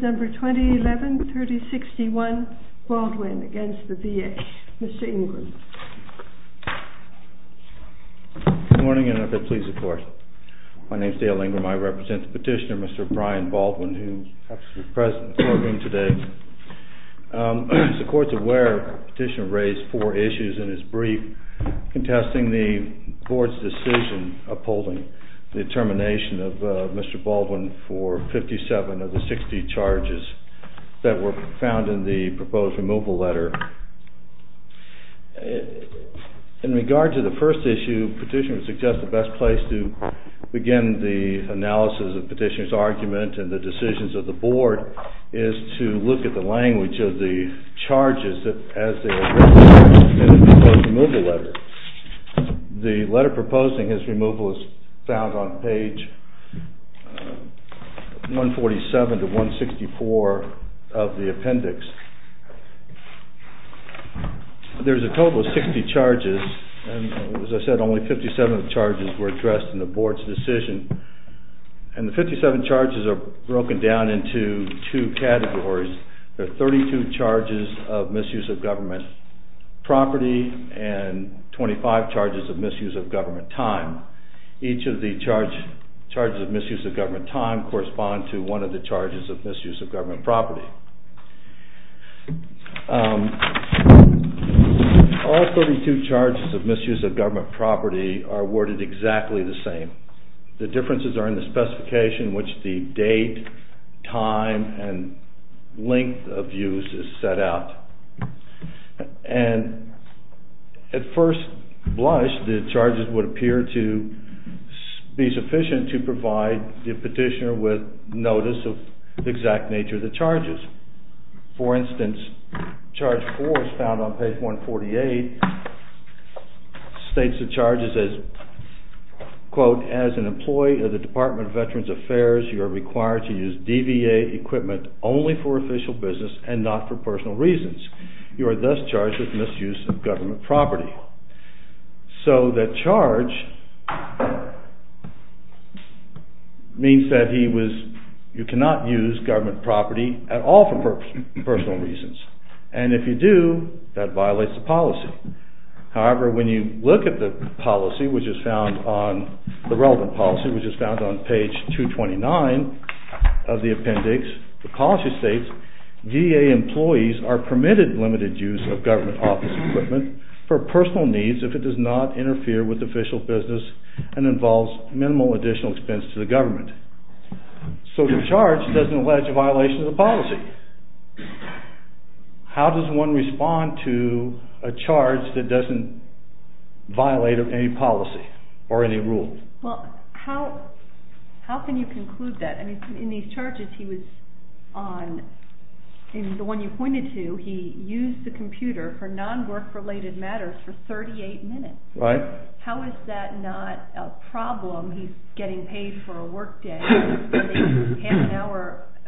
Mr. Ingram. Good morning and if it please the Court. My name is Dale Ingram. I represent the petitioner, Mr. Brian Baldwin, who happens to be present at the foreground today. As the Court is aware, the petitioner raised four issues in his brief contesting the Board's decision upholding the determination of Mr. Baldwin for 57 of the 60 charges. that were found in the proposed removal letter. In regard to the first issue, the petitioner suggests the best place to begin the analysis of the petitioner's argument and the decisions of the Board is to look at the language of the charges as they were written in the proposed removal letter. The letter proposing his removal is found on page 147-164 of the appendix. There's a total of 60 charges and, as I said, only 57 charges were addressed in the Board's decision. And the 57 charges are broken down into two categories. There are 32 charges of misuse of government property and 25 charges of misuse of government time. Each of the charges of misuse of government time correspond to one of the charges of misuse of government property. All 32 charges of misuse of government property are worded exactly the same. The differences are in the specification in which the date, time, and length of use is set out. At first blush, the charges would appear to be sufficient to provide the petitioner with notice of the exact nature of the charges. For instance, charge 4 is found on page 148, states the charges as, quote, as an employee of the Department of Veterans Affairs, you are required to use DVA equipment only for official business and not for personal reasons. You are thus charged with misuse of government property. So the charge means that you cannot use government property at all for personal reasons. And if you do, that violates the policy. However, when you look at the relevant policy, which is found on page 229 of the appendix, the policy states, VA employees are permitted limited use of government office equipment for personal needs if it does not interfere with official business and involves minimal additional expense to the government. So the charge doesn't allege a violation of the policy. How does one respond to a charge that doesn't violate any policy or any rule? Well, how can you conclude that? I mean, in these charges he was on, in the one you pointed to, he used the computer for non-work related matters for 38 minutes. How is that not a problem? He's getting paid for a work day,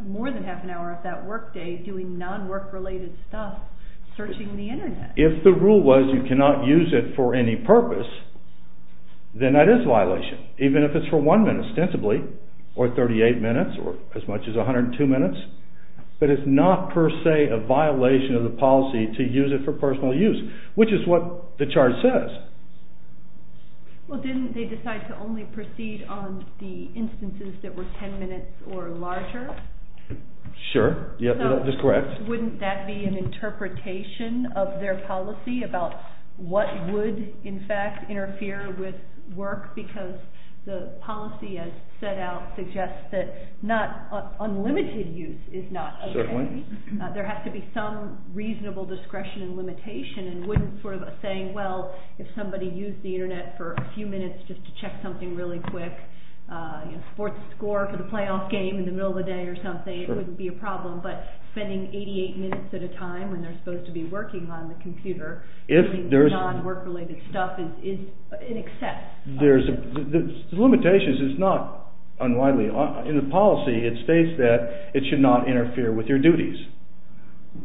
more than half an hour of that work day doing non-work related stuff, searching the internet. If the rule was you cannot use it for any purpose, then that is a violation, even if it's for one minute, ostensibly, or 38 minutes, or as much as 102 minutes. But it's not per se a violation of the policy to use it for personal use, which is what the charge says. Well, didn't they decide to only proceed on the instances that were 10 minutes or larger? Sure. Yep, that's correct. So wouldn't that be an interpretation of their policy about what would, in fact, interfere with work because the policy as set out suggests that not, unlimited use is not okay. Certainly. There has to be some reasonable discretion and limitation, and wouldn't sort of a saying, well, if somebody used the internet for a few minutes just to check something really quick, you know, sports score for the playoff game in the middle of the day or something, it wouldn't be a problem, but spending 88 minutes at a time when they're supposed to be working on the computer, using non-work related stuff is an except. The limitations is not unwidely, in the policy it states that it should not interfere with your duties.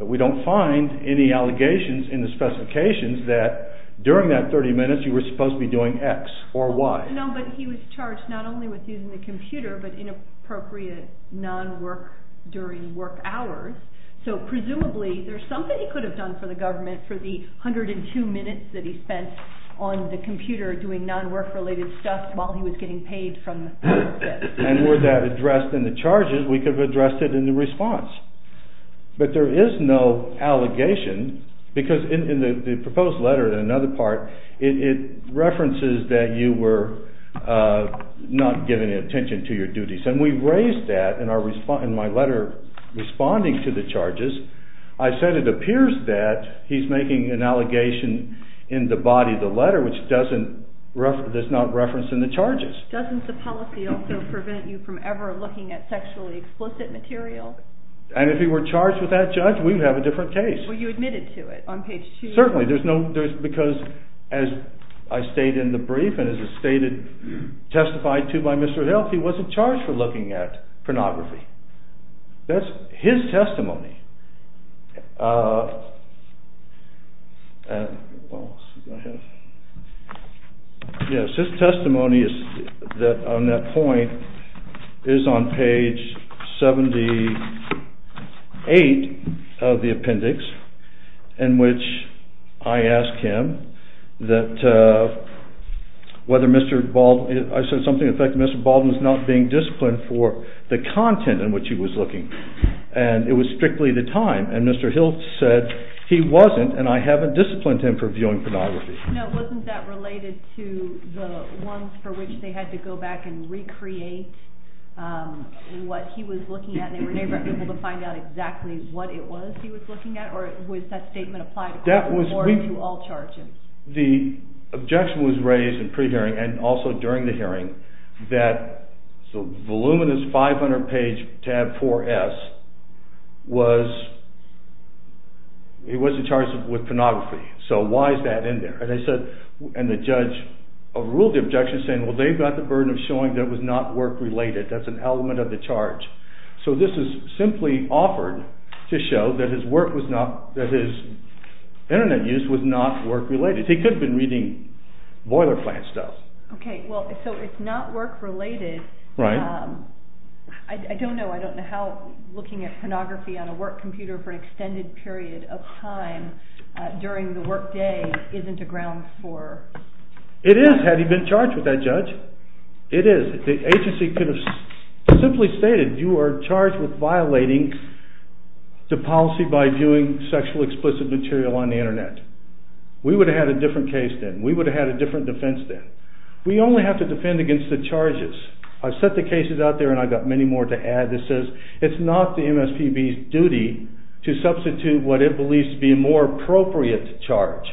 We don't find any allegations in the specifications that during that 30 minutes you were supposed to be doing X or Y. No, but he was charged not only with using the computer, but inappropriate non-work during work hours, so presumably there's something he could have done for the government for the 102 minutes that he spent on the computer doing non-work related stuff while he was getting paid from the public debt. And were that addressed in the charges, we could have addressed it in the response, but there is no allegation, because in the proposed letter in another part, it references that you were not giving attention to your duties, and we raised that in my letter responding to the charges. I said it appears that he's making an allegation in the body of the letter which does not reference in the charges. Doesn't the policy also prevent you from ever looking at sexually explicit material? And if he were charged with that, judge, we would have a different case. Were you admitted to it on page 2? Certainly, because as I stated in the brief and as it's stated, testified to by Mr. Hill, he wasn't charged for looking at pornography. That's his testimony. His testimony on that point is on page 78 of the appendix in which I asked him that whether Mr. Baldwin, I said something to the effect that Mr. Baldwin was not being disciplined for the content in which he was looking. And it was strictly the time, and Mr. Hill said he wasn't, and I haven't disciplined him for viewing pornography. Wasn't that related to the ones for which they had to go back and recreate what he was looking at, and they were never able to find out exactly what it was he was looking at, or was that statement applied to all charges? The objection was raised in pre-hearing and also during the hearing that the voluminous 500 page tab 4S was, he wasn't charged with pornography, so why is that in there? And the judge ruled the objection saying, well they've got the burden of showing that it was not work related. That's an element of the charge. So this is simply offered to show that his work was not, that his internet use was not work related. He could have been reading boiler plant stuff. Okay, so it's not work related. I don't know how looking at pornography on a work computer for an extended period of time during the work day isn't a ground for... It is, had he been charged with that judge. It is. The agency could have simply stated you are charged with violating the policy by viewing sexual explicit material on the internet. We would have had a different case then. We would have had a different defense then. We only have to defend against the charges. I've set the cases out there and I've got many more to add that says it's not the MSPB's duty to substitute what it believes to be a more appropriate charge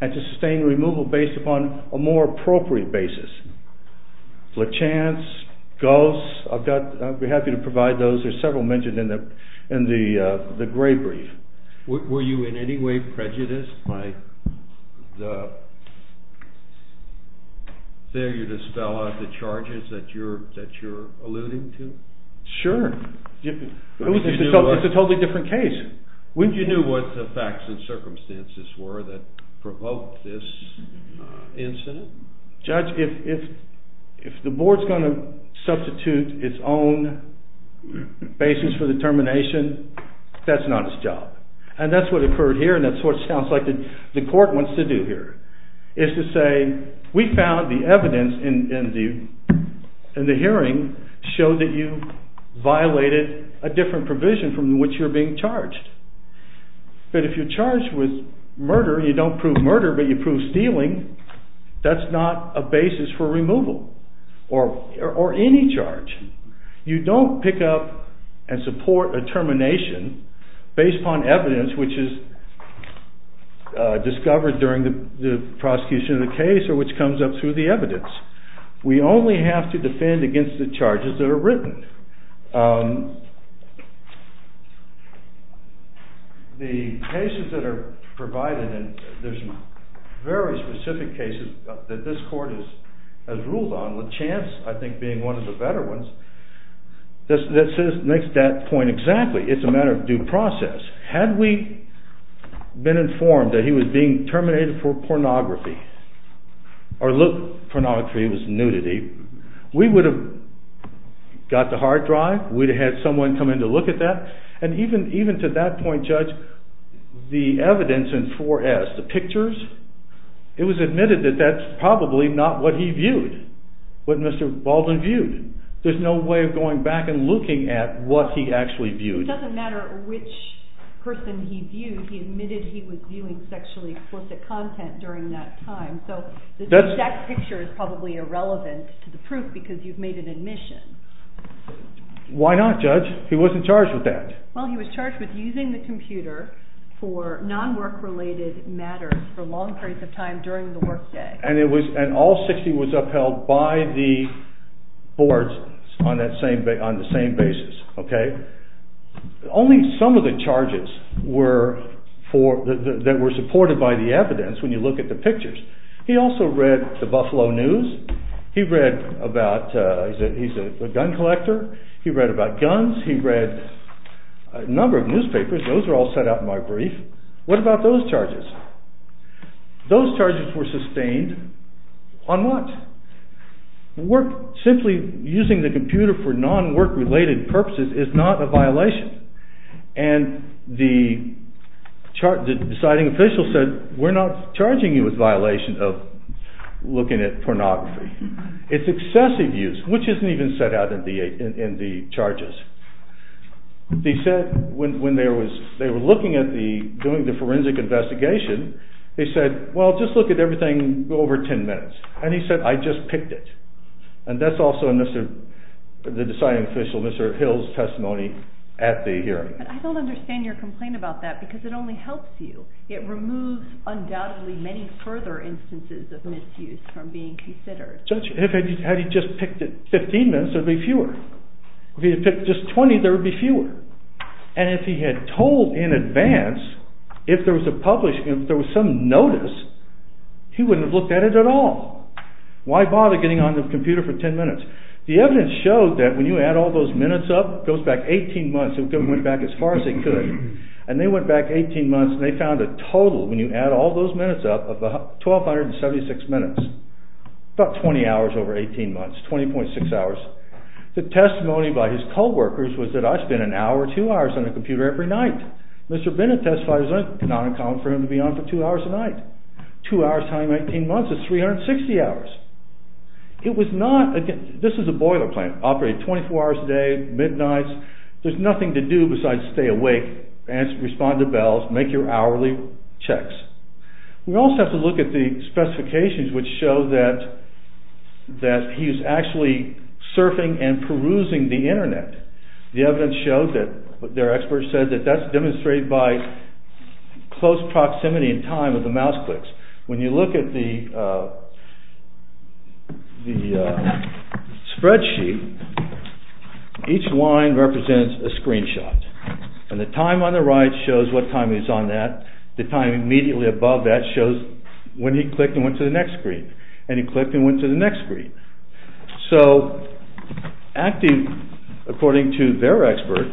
and to sustain removal based upon a more appropriate basis. Lachance, Goss, I'd be happy to provide those. There's several mentioned in the gray brief. Were you in any way prejudiced by the failure to spell out the charges that you're alluding to? Sure. It's a totally different case. Would you know what the facts and circumstances were that provoked this incident? Judge, if the board's going to substitute its own basis for determination, that's not its job. And that's what occurred here and that's what it sounds like the court wants to do here. It's to say we found the evidence in the hearing showed that you violated a different provision from which you're being charged. But if you're charged with murder, you don't prove murder but you prove stealing, that's not a basis for removal or any charge. You don't pick up and support a termination based upon evidence which is discovered during the prosecution of the case or which comes up through the evidence. We only have to defend against the charges that are written. The cases that are provided and there's very specific cases that this court has ruled on, Lachance I think being one of the better ones, that makes that point exactly. It's a matter of due process. Had we been informed that he was being terminated for pornography, or look, pornography was nudity, we would have got the hard drive, we would have had someone come in to look at that and even to that point, Judge, the evidence in 4S, the pictures, it was admitted that that's probably not what he viewed, what Mr. Baldwin viewed. There's no way of going back and looking at what he actually viewed. It doesn't matter which person he viewed, he admitted he was viewing sexually explicit content during that time, so that picture is probably irrelevant to the proof because you've made an admission. Why not, Judge? He wasn't charged with that. Well, he was charged with using the computer for non-work related matters for long periods of time during the work day. And all 60 was upheld by the boards on the same basis. Only some of the charges were supported by the evidence when you look at the pictures. He also read the Buffalo News, he's a gun collector, he read about guns, he read a number of newspapers, those were all set up in my brief. What about those charges? Those charges were sustained on what? Simply using the computer for non-work related purposes is not a violation. And the deciding official said, we're not charging you with violation of looking at pornography. It's excessive use, which isn't even set out in the charges. They said when they were looking at doing the forensic investigation, they said, well just look at everything over 10 minutes. And he said, I just picked it. And that's also in the deciding official, Mr. Hill's testimony at the hearing. I don't understand your complaint about that because it only helps you. It removes undoubtedly many further instances of misuse from being considered. If he had just picked it 15 minutes, there would be fewer. If he had picked just 20, there would be fewer. And if he had told in advance, if there was some notice, he wouldn't have looked at it at all. Why bother getting on the computer for 10 minutes? The evidence showed that when you add all those minutes up, it goes back 18 months, it went back as far as it could. And they went back 18 months and they found a total, when you add all those minutes up, of 1,276 minutes. About 20 hours over 18 months, 20.6 hours. The testimony by his co-workers was that I spent an hour or two hours on the computer every night. Mr. Bennett testified it was not uncommon for him to be on for two hours a night. Two hours times 18 months is 360 hours. This is a boiler plan. Operate 24 hours a day, midnights. There's nothing to do besides stay awake, respond to bells, make your hourly checks. We also have to look at the specifications which show that he's actually surfing and perusing the internet. The evidence showed that, their experts said that that's demonstrated by close proximity in time of the mouse clicks. When you look at the spreadsheet, each line represents a screenshot. And the time on the right shows what time he was on that. The time immediately above that shows when he clicked and went to the next screen. And he clicked and went to the next screen. So, according to their expert,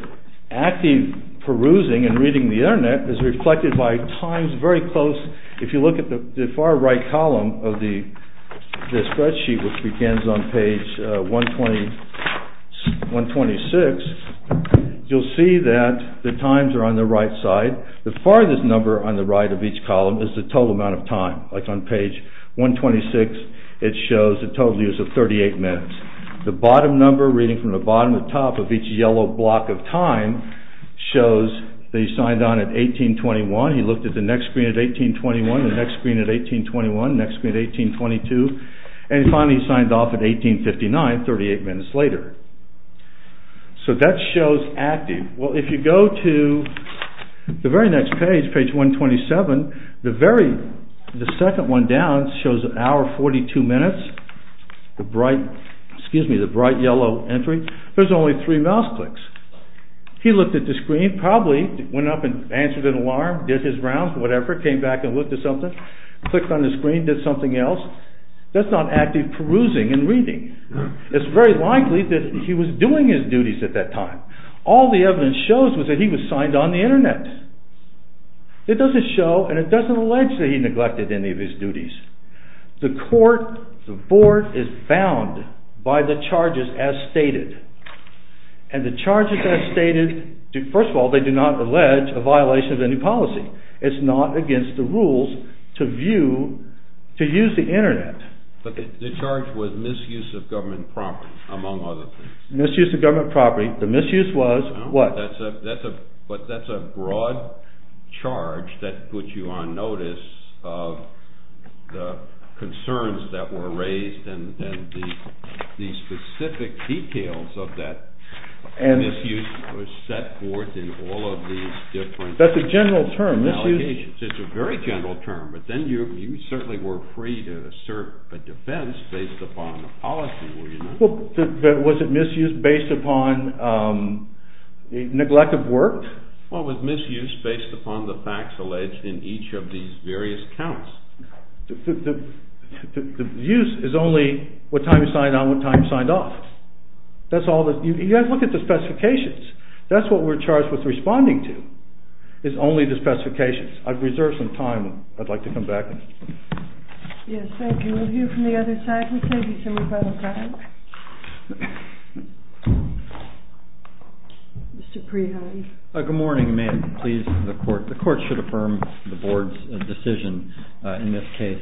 active perusing and reading the internet is reflected by times very close. If you look at the far right column of the spreadsheet which begins on page 126, you'll see that the times are on the right side. The farthest number on the right of each column is the total amount of time. Like on page 126, it shows the total use of 38 minutes. The bottom number reading from the bottom to top of each yellow block of time shows that he signed on at 1821. He looked at the next screen at 1821, the next screen at 1821, the next screen at 1822, and he finally signed off at 1859, 38 minutes later. So, that shows active. Well, if you go to the very next page, page 127, the second one down shows the hour 42 minutes, the bright yellow entry. There's only three mouse clicks. He looked at the screen, probably went up and answered an alarm, did his rounds, whatever, came back and looked at something, clicked on the screen, did something else. That's not active perusing and reading. It's very likely that he was doing his duties at that time. All the evidence shows was that he was signed on the internet. It doesn't show and it doesn't allege that he neglected any of his duties. The court, the board is bound by the charges as stated. And the charges as stated, first of all, they do not allege a violation of any policy. It's not against the rules to view, to use the internet. But the charge was misuse of government property, among other things. Misuse of government property. The misuse was what? But that's a broad charge that puts you on notice of the concerns that were raised and the specific details of that misuse was set forth in all of these different allegations. That's a general term. It's a very general term. But then you certainly were free to assert a defense based upon the policy, were you not? Was it misuse based upon neglect of work? Well, it was misuse based upon the facts alleged in each of these various counts. The misuse is only what time he signed on, what time he signed off. You have to look at the specifications. That's what we're charged with responding to, is only the specifications. I've reserved some time. I'd like to come back. Yes, thank you. We'll hear from the other side. Mr. Prihody. Good morning, ma'am. Please, the court. The court should affirm the board's decision in this case.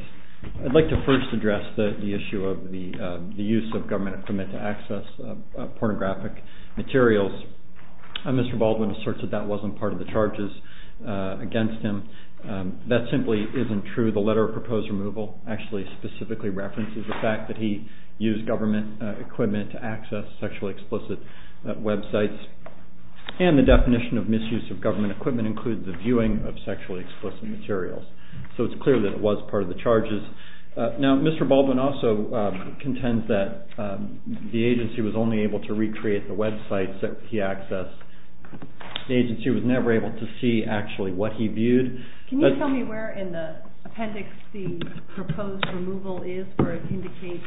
I'd like to first address the issue of the use of government equipment to access pornographic materials. Mr. Baldwin asserts that that wasn't part of the charges against him. That simply isn't true. The letter of proposed removal actually specifically references the fact that he used government equipment to access sexually explicit websites. And the definition of misuse of government equipment includes the viewing of sexually explicit materials. So it's clear that it was part of the charges. Now, Mr. Baldwin also contends that the agency was only able to recreate the websites that he accessed. The agency was never able to see actually what he viewed. Can you tell me where in the appendix the proposed removal is where it indicates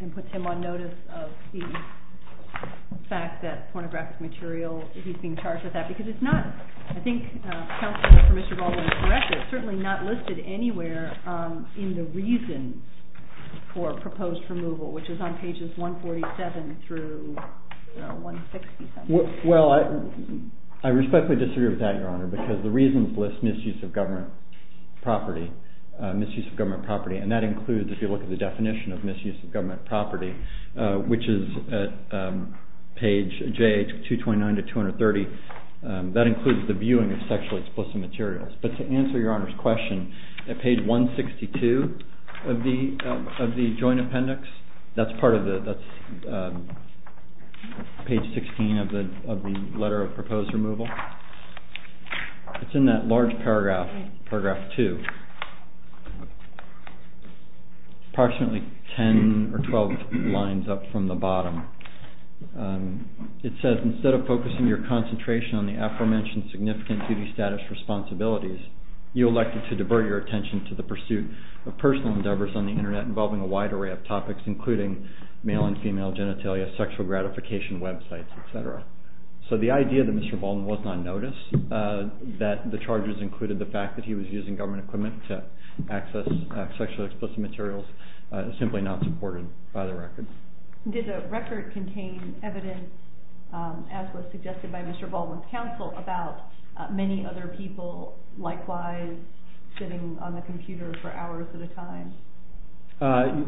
and puts him on notice of the fact that pornographic material, he's being charged with that? Because it's not, I think counsel for Mr. Baldwin is correct, it's certainly not listed anywhere in the reasons for proposed removal, which is on pages 147 through 160. Well, I respectfully disagree with that, Your Honor, because the reasons list misuse of government property. And that includes, if you look at the definition of misuse of government property, which is at page 229 to 230, that includes the viewing of sexually explicit materials. But to answer Your Honor's question, at page 162 of the joint appendix, that's page 16 of the letter of proposed removal, it's in that large paragraph, paragraph 2, approximately 10 or 12 lines up from the bottom. It says, instead of focusing your concentration on the aforementioned significant duty, status, responsibilities, you elected to divert your attention to the pursuit of personal endeavors on the internet involving a wide array of topics, including male and female genitalia, sexual gratification websites, etc. So the idea that Mr. Baldwin was not noticed, that the charges included the fact that he was using government equipment to access sexually explicit materials, is simply not supported by the record. Did the record contain evidence, as was suggested by Mr. Baldwin's counsel, about many other people likewise sitting on the computer for hours at a time?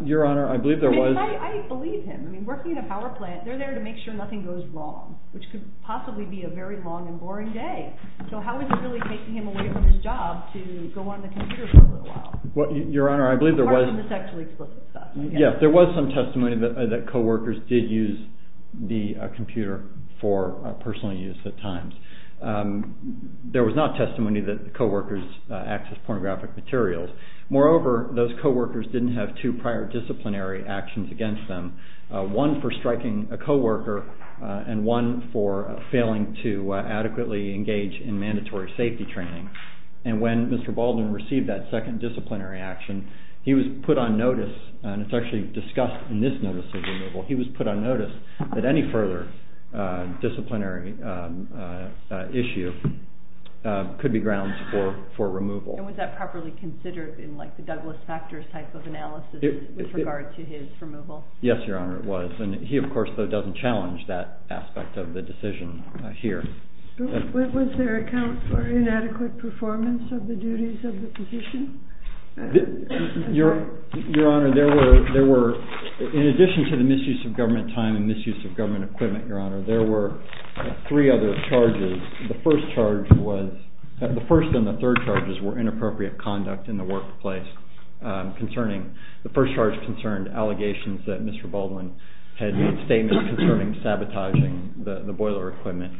Your Honor, I believe there was... I believe him. I mean, working at a power plant, they're there to make sure nothing goes wrong, which could possibly be a very long and boring day. So how is it really taking him away from his job to go on the computer for a little while? Well, Your Honor, I believe there was... Apart from the sexually explicit stuff. Yes, there was some testimony that co-workers did use the computer for personal use at times. There was not testimony that the co-workers accessed pornographic materials. Moreover, those co-workers didn't have two prior disciplinary actions against them, one for striking a co-worker and one for failing to adequately engage in mandatory safety training. And when Mr. Baldwin received that second disciplinary action, he was put on notice, and it's actually discussed in this notice of removal, he was put on notice that any further disciplinary issue could be grounds for removal. And was that properly considered in, like, the Douglas Factors type of analysis with regard to his removal? Yes, Your Honor, it was. And he, of course, though, doesn't challenge that aspect of the decision here. Was there account for inadequate performance of the duties of the position? Your Honor, there were, in addition to the misuse of government time and misuse of government equipment, Your Honor, there were three other charges. The first charge was – the first and the third charges were inappropriate conduct in the workplace concerning – the first charge concerned allegations that Mr. Baldwin had made statements concerning sabotaging the boiler equipment.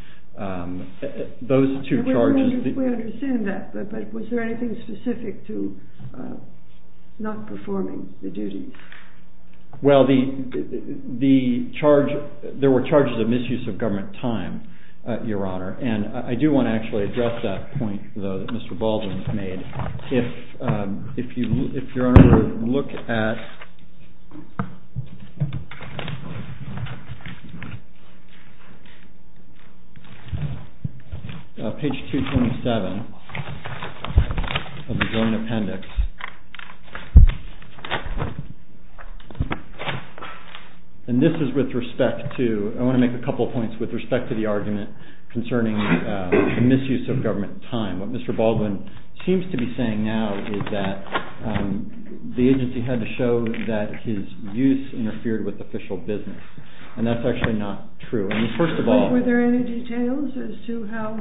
Those two charges – I don't know if we understand that, but was there anything specific to not performing the duties? Well, the charge – there were charges of misuse of government time, Your Honor, and I do want to actually address that point, though, that Mr. Baldwin has made. If Your Honor would look at page 227 of the Joint Appendix, and this is with respect to – I want to make a couple points with respect to the argument concerning the misuse of government time. What Mr. Baldwin seems to be saying now is that the agency had to show that his use interfered with official business, and that's actually not true. I mean, first of all – But were there any details as to how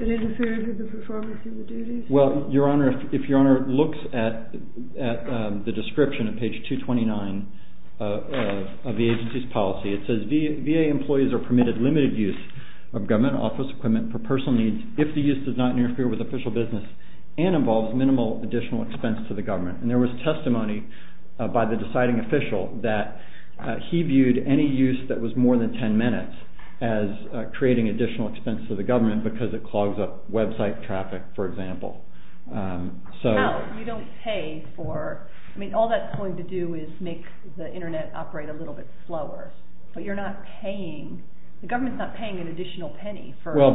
it interfered with the performance of the duties? Well, Your Honor, if Your Honor looks at the description on page 229 of the agency's policy, it says, VA employees are permitted limited use of government office equipment for personal needs if the use does not interfere with official business and involves minimal additional expense to the government. And there was testimony by the deciding official that he viewed any use that was more than 10 minutes as creating additional expense to the government because it clogs up website traffic, for example. So – No, you don't pay for – I mean, all that's going to do is make the internet operate a little bit slower, but you're not paying – the government's not paying an additional penny for that. Well,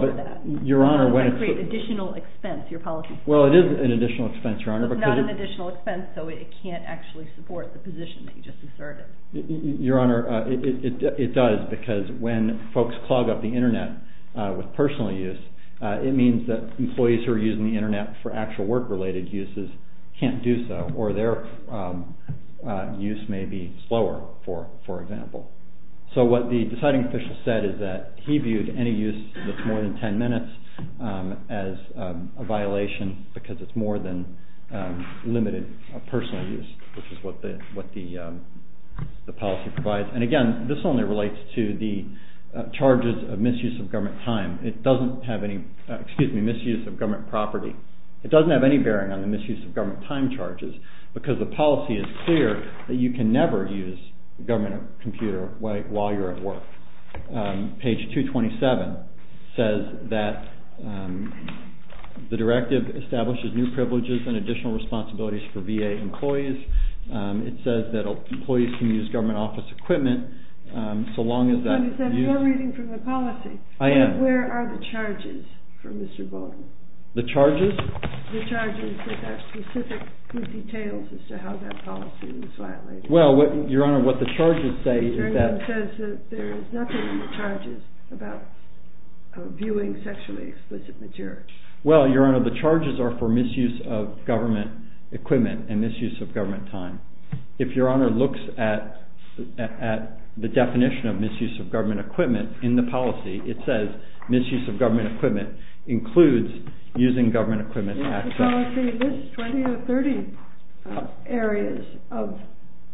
but Your Honor – That would create additional expense, your policy. Well, it is an additional expense, Your Honor, because – It is an additional expense, so it can't actually support the position that you just asserted. Your Honor, it does, because when folks clog up the internet with personal use, it means that employees who are using the internet for actual work-related uses can't do so, or their use may be slower, for example. So what the deciding official said is that he viewed any use that's more than 10 minutes as a violation because it's more than limited personal use, which is what the policy provides. And again, this only relates to the charges of misuse of government time. It doesn't have any – excuse me, misuse of government property. It doesn't have any bearing on the misuse of government time charges because the policy is clear that you can never use a government computer while you're at work. Page 227 says that the directive establishes new privileges and additional responsibilities for VA employees. It says that employees can use government office equipment so long as that – Your Honor, is that your reading from the policy? I am. Where are the charges for Mr. Bogan? The charges? The charges that are specific with details as to how that policy was violated. Well, Your Honor, what the charges say is that – The attorney says that there is nothing in the charges about viewing sexually explicit material. Well, Your Honor, the charges are for misuse of government equipment and misuse of government time. If Your Honor looks at the definition of misuse of government equipment in the policy, it says misuse of government equipment includes using government equipment access. The policy lists 20 or 30 areas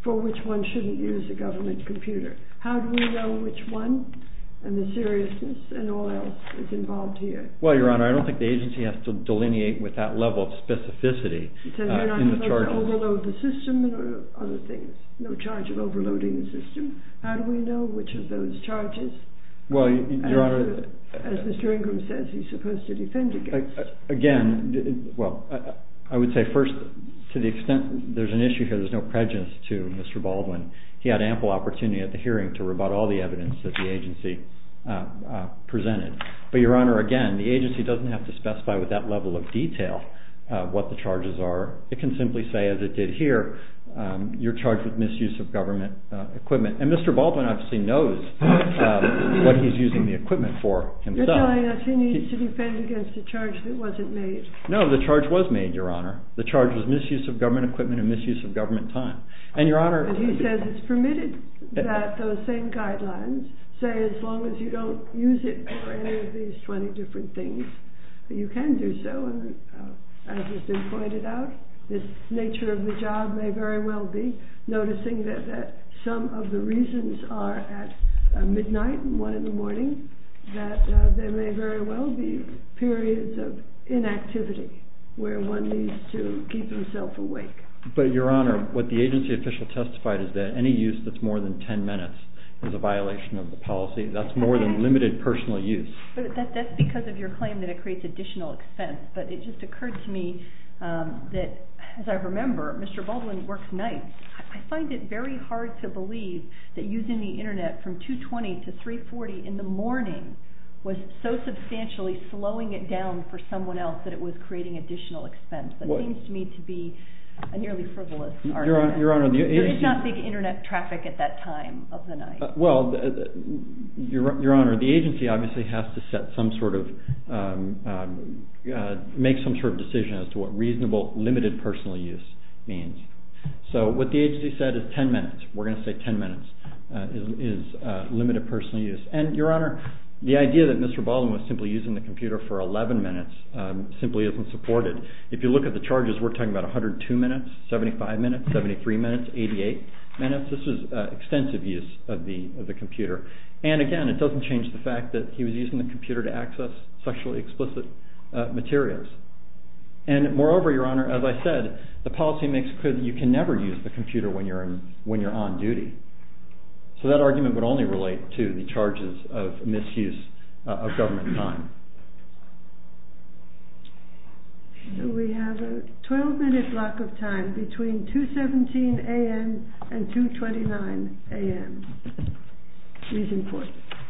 for which one shouldn't use a government computer. How do we know which one and the seriousness and all else is involved here? Well, Your Honor, I don't think the agency has to delineate with that level of specificity in the charges. Overload the system and other things. No charge of overloading the system. How do we know which of those charges, as Mr. Ingram says, he's supposed to defend against? Again, well, I would say first, to the extent there's an issue here, there's no prejudice to Mr. Baldwin. He had ample opportunity at the hearing to rebut all the evidence that the agency presented. But, Your Honor, again, the agency doesn't have to specify with that level of detail what the charges are. It can simply say, as it did here, you're charged with misuse of government equipment. And Mr. Baldwin obviously knows what he's using the equipment for himself. You're telling us he needs to defend against a charge that wasn't made. No, the charge was made, Your Honor. The charge was misuse of government equipment and misuse of government time. And, Your Honor, he says it's permitted that those same guidelines say as long as you don't use it for any of these 20 different things, you can do so. As has been pointed out, this nature of the job may very well be noticing that some of the reasons are at midnight and one in the morning, that there may very well be periods of inactivity where one needs to keep himself awake. But, Your Honor, what the agency official testified is that any use that's more than 10 minutes is a violation of the policy. That's more than limited personal use. But that's because of your claim that it creates additional expense. But it just occurred to me that, as I remember, Mr. Baldwin works nights. I find it very hard to believe that using the Internet from 2.20 to 3.40 in the morning was so substantially slowing it down for someone else that it was creating additional expense. That seems to me to be a nearly frivolous argument. Your Honor, the agency… There was not big Internet traffic at that time of the night. Well, Your Honor, the agency obviously has to make some sort of decision as to what reasonable limited personal use means. So what the agency said is 10 minutes. We're going to say 10 minutes is limited personal use. And, Your Honor, the idea that Mr. Baldwin was simply using the computer for 11 minutes simply isn't supported. If you look at the charges, we're talking about 102 minutes, 75 minutes, 73 minutes, 88 minutes. This is extensive use of the computer. And, again, it doesn't change the fact that he was using the computer to access sexually explicit materials. And, moreover, Your Honor, as I said, the policy makes clear that you can never use the computer when you're on duty. So that argument would only relate to the charges of misuse of government time. We have a 12-minute block of time between 2.17 a.m. and 2.29 a.m.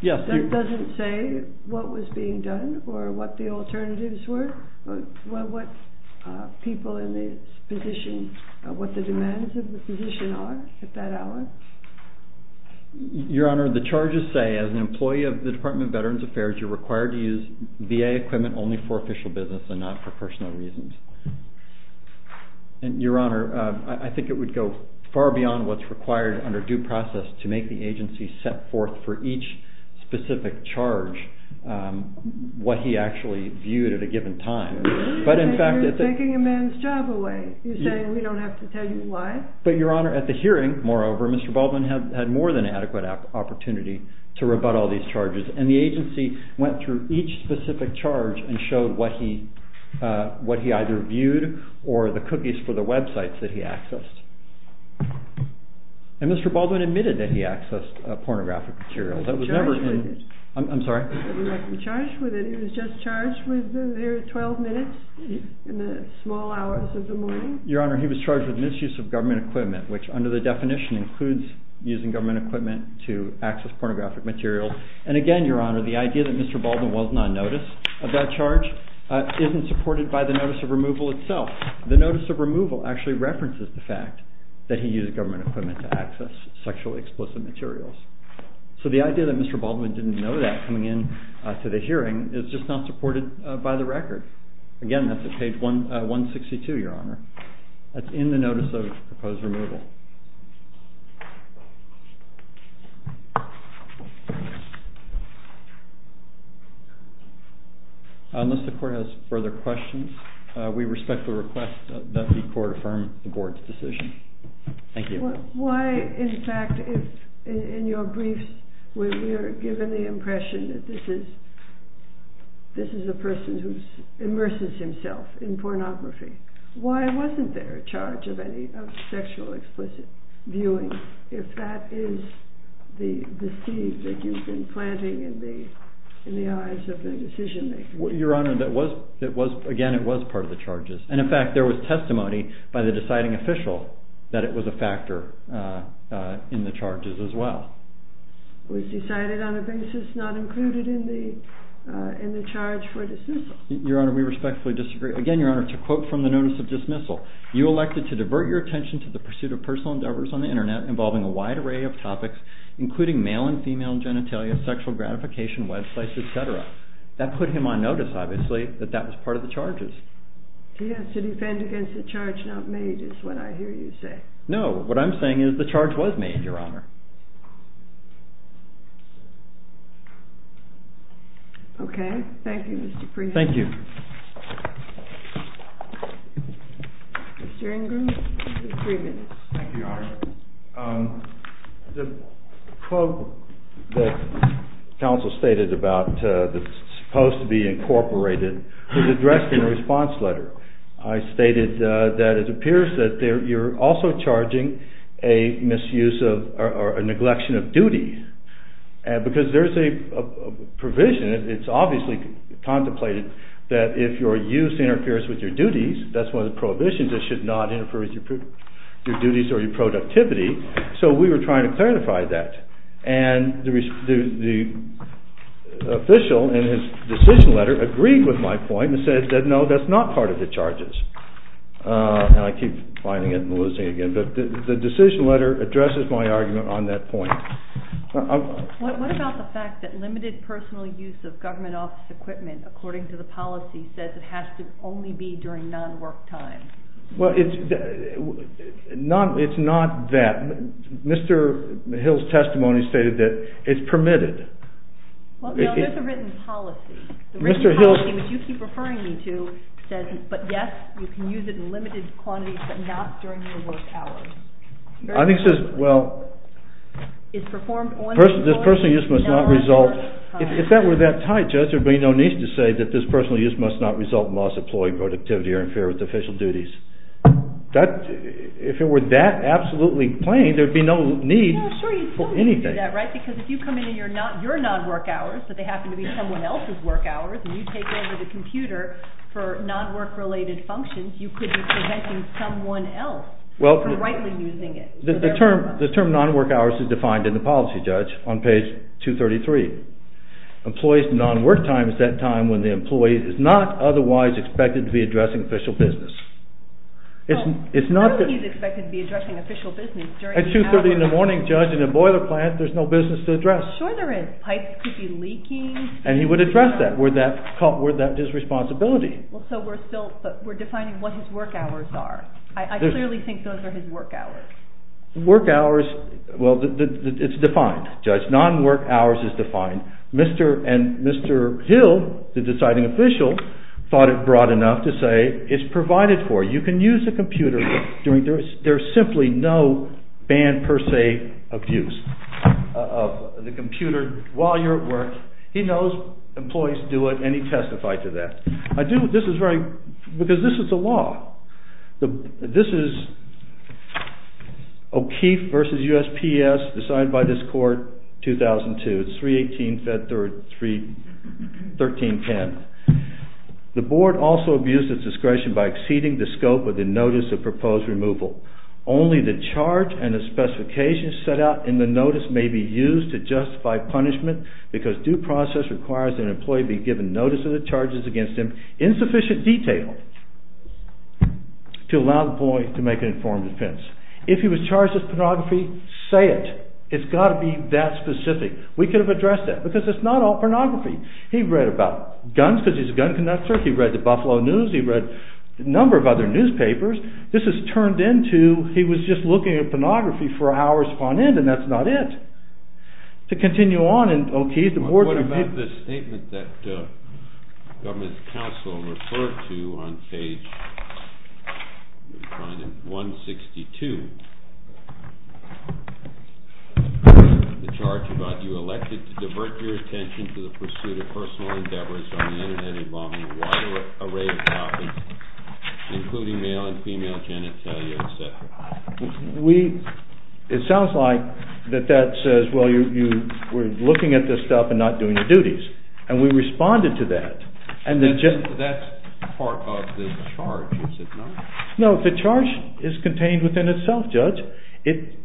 That doesn't say what was being done or what the alternatives were, what people in the position, what the demands of the position are at that hour? Your Honor, the charges say, as an employee of the Department of Veterans Affairs, you're required to use VA equipment only for official business and not for personal reasons. And, Your Honor, I think it would go far beyond what's required under due process to make the agency set forth for each specific charge what he actually viewed at a given time. But, in fact... You're taking a man's job away. You're saying we don't have to tell you why? But, Your Honor, at the hearing, moreover, Mr. Baldwin had more than adequate opportunity to rebut all these charges. And the agency went through each specific charge and showed what he either viewed or the cookies for the websites that he accessed. And Mr. Baldwin admitted that he accessed pornographic materials. I'm sorry? He was just charged with their 12 minutes in the small hours of the morning? Your Honor, he was charged with misuse of government equipment, which, under the definition, includes using government equipment to access pornographic materials. And, again, Your Honor, the idea that Mr. Baldwin was non-notice of that charge isn't supported by the notice of removal itself. The notice of removal actually references the fact that he used government equipment to access sexually explicit materials. So the idea that Mr. Baldwin didn't know that coming into the hearing is just not supported by the record. Again, that's at page 162, Your Honor. That's in the notice of proposed removal. Unless the court has further questions, we respect the request that the court affirm the board's decision. Thank you. Why, in fact, in your briefs, when you're given the impression that this is a person who immerses himself in pornography, why wasn't there a charge of sexual explicit viewing if that is the seed that you've been planting in the eyes of the decision-makers? Your Honor, again, it was part of the charges. And, in fact, there was testimony by the deciding official that it was a factor in the charges as well. It was decided on a basis not included in the charge for dismissal. Your Honor, we respectfully disagree. Again, Your Honor, to quote from the notice of dismissal, you elected to divert your attention to the pursuit of personal endeavors on the Internet involving a wide array of topics, including male and female genitalia, sexual gratification, websites, etc. That put him on notice, obviously, that that was part of the charges. He has to defend against a charge not made is what I hear you say. No. What I'm saying is the charge was made, Your Honor. Okay. Thank you, Mr. Freeman. Thank you. Mr. Ingram, you have three minutes. Thank you, Your Honor. The quote that counsel stated about the supposed to be incorporated was addressed in the response letter. I stated that it appears that you're also charging a misuse or a neglection of duty. And because there's a provision, it's obviously contemplated that if your use interferes with your duties, that's one of the prohibitions that should not interfere with your duties or your productivity. So we were trying to clarify that. And the official in his decision letter agreed with my point and said, no, that's not part of the charges. And I keep finding it and losing it again. But the decision letter addresses my argument on that point. What about the fact that limited personal use of government office equipment, according to the policy, says it has to only be during non-work time? Well, it's not that. Mr. Hill's testimony stated that it's permitted. Well, there's a written policy. The written policy, which you keep referring me to, says, but, yes, you can use it in limited quantities, but not during your work hours. I think it says, well, this personal use must not result, if that were that tight, Judge, there'd be no need to say that this personal use must not result in loss of employee productivity or interference with official duties. If it were that absolutely plain, there'd be no need for anything. Well, sure, you could do that, right? Because if you come in in your non-work hours, but they happen to be someone else's work hours, and you take over the computer for non-work-related functions, you could be preventing someone else from rightly using it. The term non-work hours is defined in the policy, Judge, on page 233. Employees' non-work time is that time when the employee is not otherwise expected to be addressing official business. It's not that he's expected to be addressing official business. At 2.30 in the morning, Judge, in a boiler plant, there's no business to address. Sure there is. Pipes could be leaking. And he would address that, where that is his responsibility. So we're still, we're defining what his work hours are. I clearly think those are his work hours. Work hours, well, it's defined, Judge. Non-work hours is defined. Mr. and Mr. Hill, the deciding official, thought it broad enough to say it's provided for. You can use the computer during, there's simply no ban per se of use of the computer while you're at work. He knows employees do it, and he testified to that. I do, this is very, because this is the law. This is O'Keefe v. USPS, decided by this court, 2002. It's 318-313-10. The board also abused its discretion by exceeding the scope of the notice of proposed removal. Only the charge and the specifications set out in the notice may be used to justify punishment because due process requires that an employee be given notice of the charges against him in sufficient detail to allow the employee to make an informed defense. If he was charged with pornography, say it. It's got to be that specific. We could have addressed that, because it's not all pornography. He read about guns, because he's a gun conductor. He read the Buffalo News, he read a number of other newspapers. This is turned into, he was just looking at pornography for hours on end, and that's not it. To continue on in O'Keefe, the board... What about the statement that government counsel referred to on page 162? The charge about you elected to divert your attention to the pursuit of personal endeavors on the Internet involving a wider array of topics, including male and female genitalia, etc. It sounds like that says, well, you were looking at this stuff and not doing your duties. And we responded to that. That's part of the charge, is it not? No, the charge is contained within itself, Judge.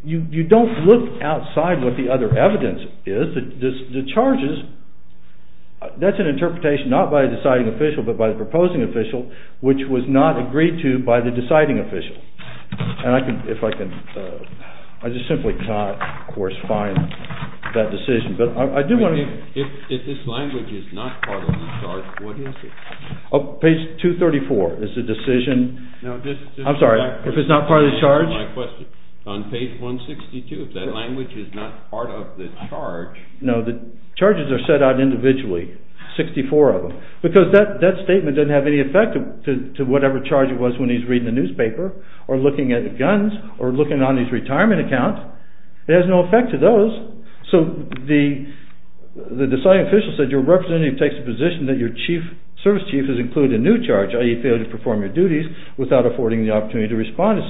You don't look outside what the other evidence is. The charges, that's an interpretation not by the deciding official, but by the proposing official, which was not agreed to by the deciding official. And I can, if I can, I just simply cannot, of course, find that decision. But I do want to... If this language is not part of the charge, what is it? Page 234 is the decision. I'm sorry, if it's not part of the charge? On page 162, if that language is not part of the charge... No, the charges are set out individually, 64 of them. Because that statement doesn't have any effect to whatever charge it was when he's reading the newspaper, or looking at guns, or looking on his retirement account. It has no effect to those. So the deciding official said, Your representative takes the position that your service chief has included a new charge, i.e. failed to perform your duties without affording the opportunity to respond to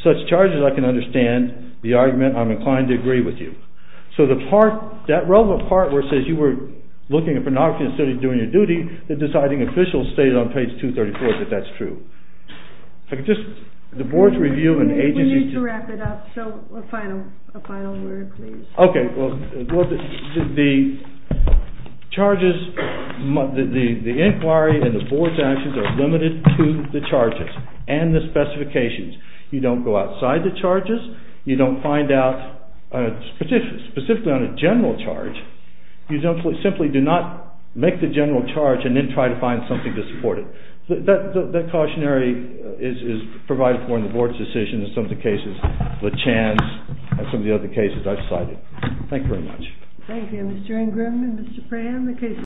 such charges. I can understand the argument. I'm inclined to agree with you. So the part, that relevant part where it says you were looking at pornography instead of doing your duty, the deciding official stated on page 234 that that's true. The board's review and agency... We need to wrap it up, so a final word, please. Okay, well, the charges, the inquiry and the board's actions are limited to the charges and the specifications. You don't go outside the charges, you don't find out, specifically on a general charge, you simply do not make the general charge and then try to find something to support it. That cautionary is provided for in the board's decision in some of the cases, the Chans and some of the other cases I've cited. Thank you very much. Thank you, Mr. Ingram and Mr. Pram.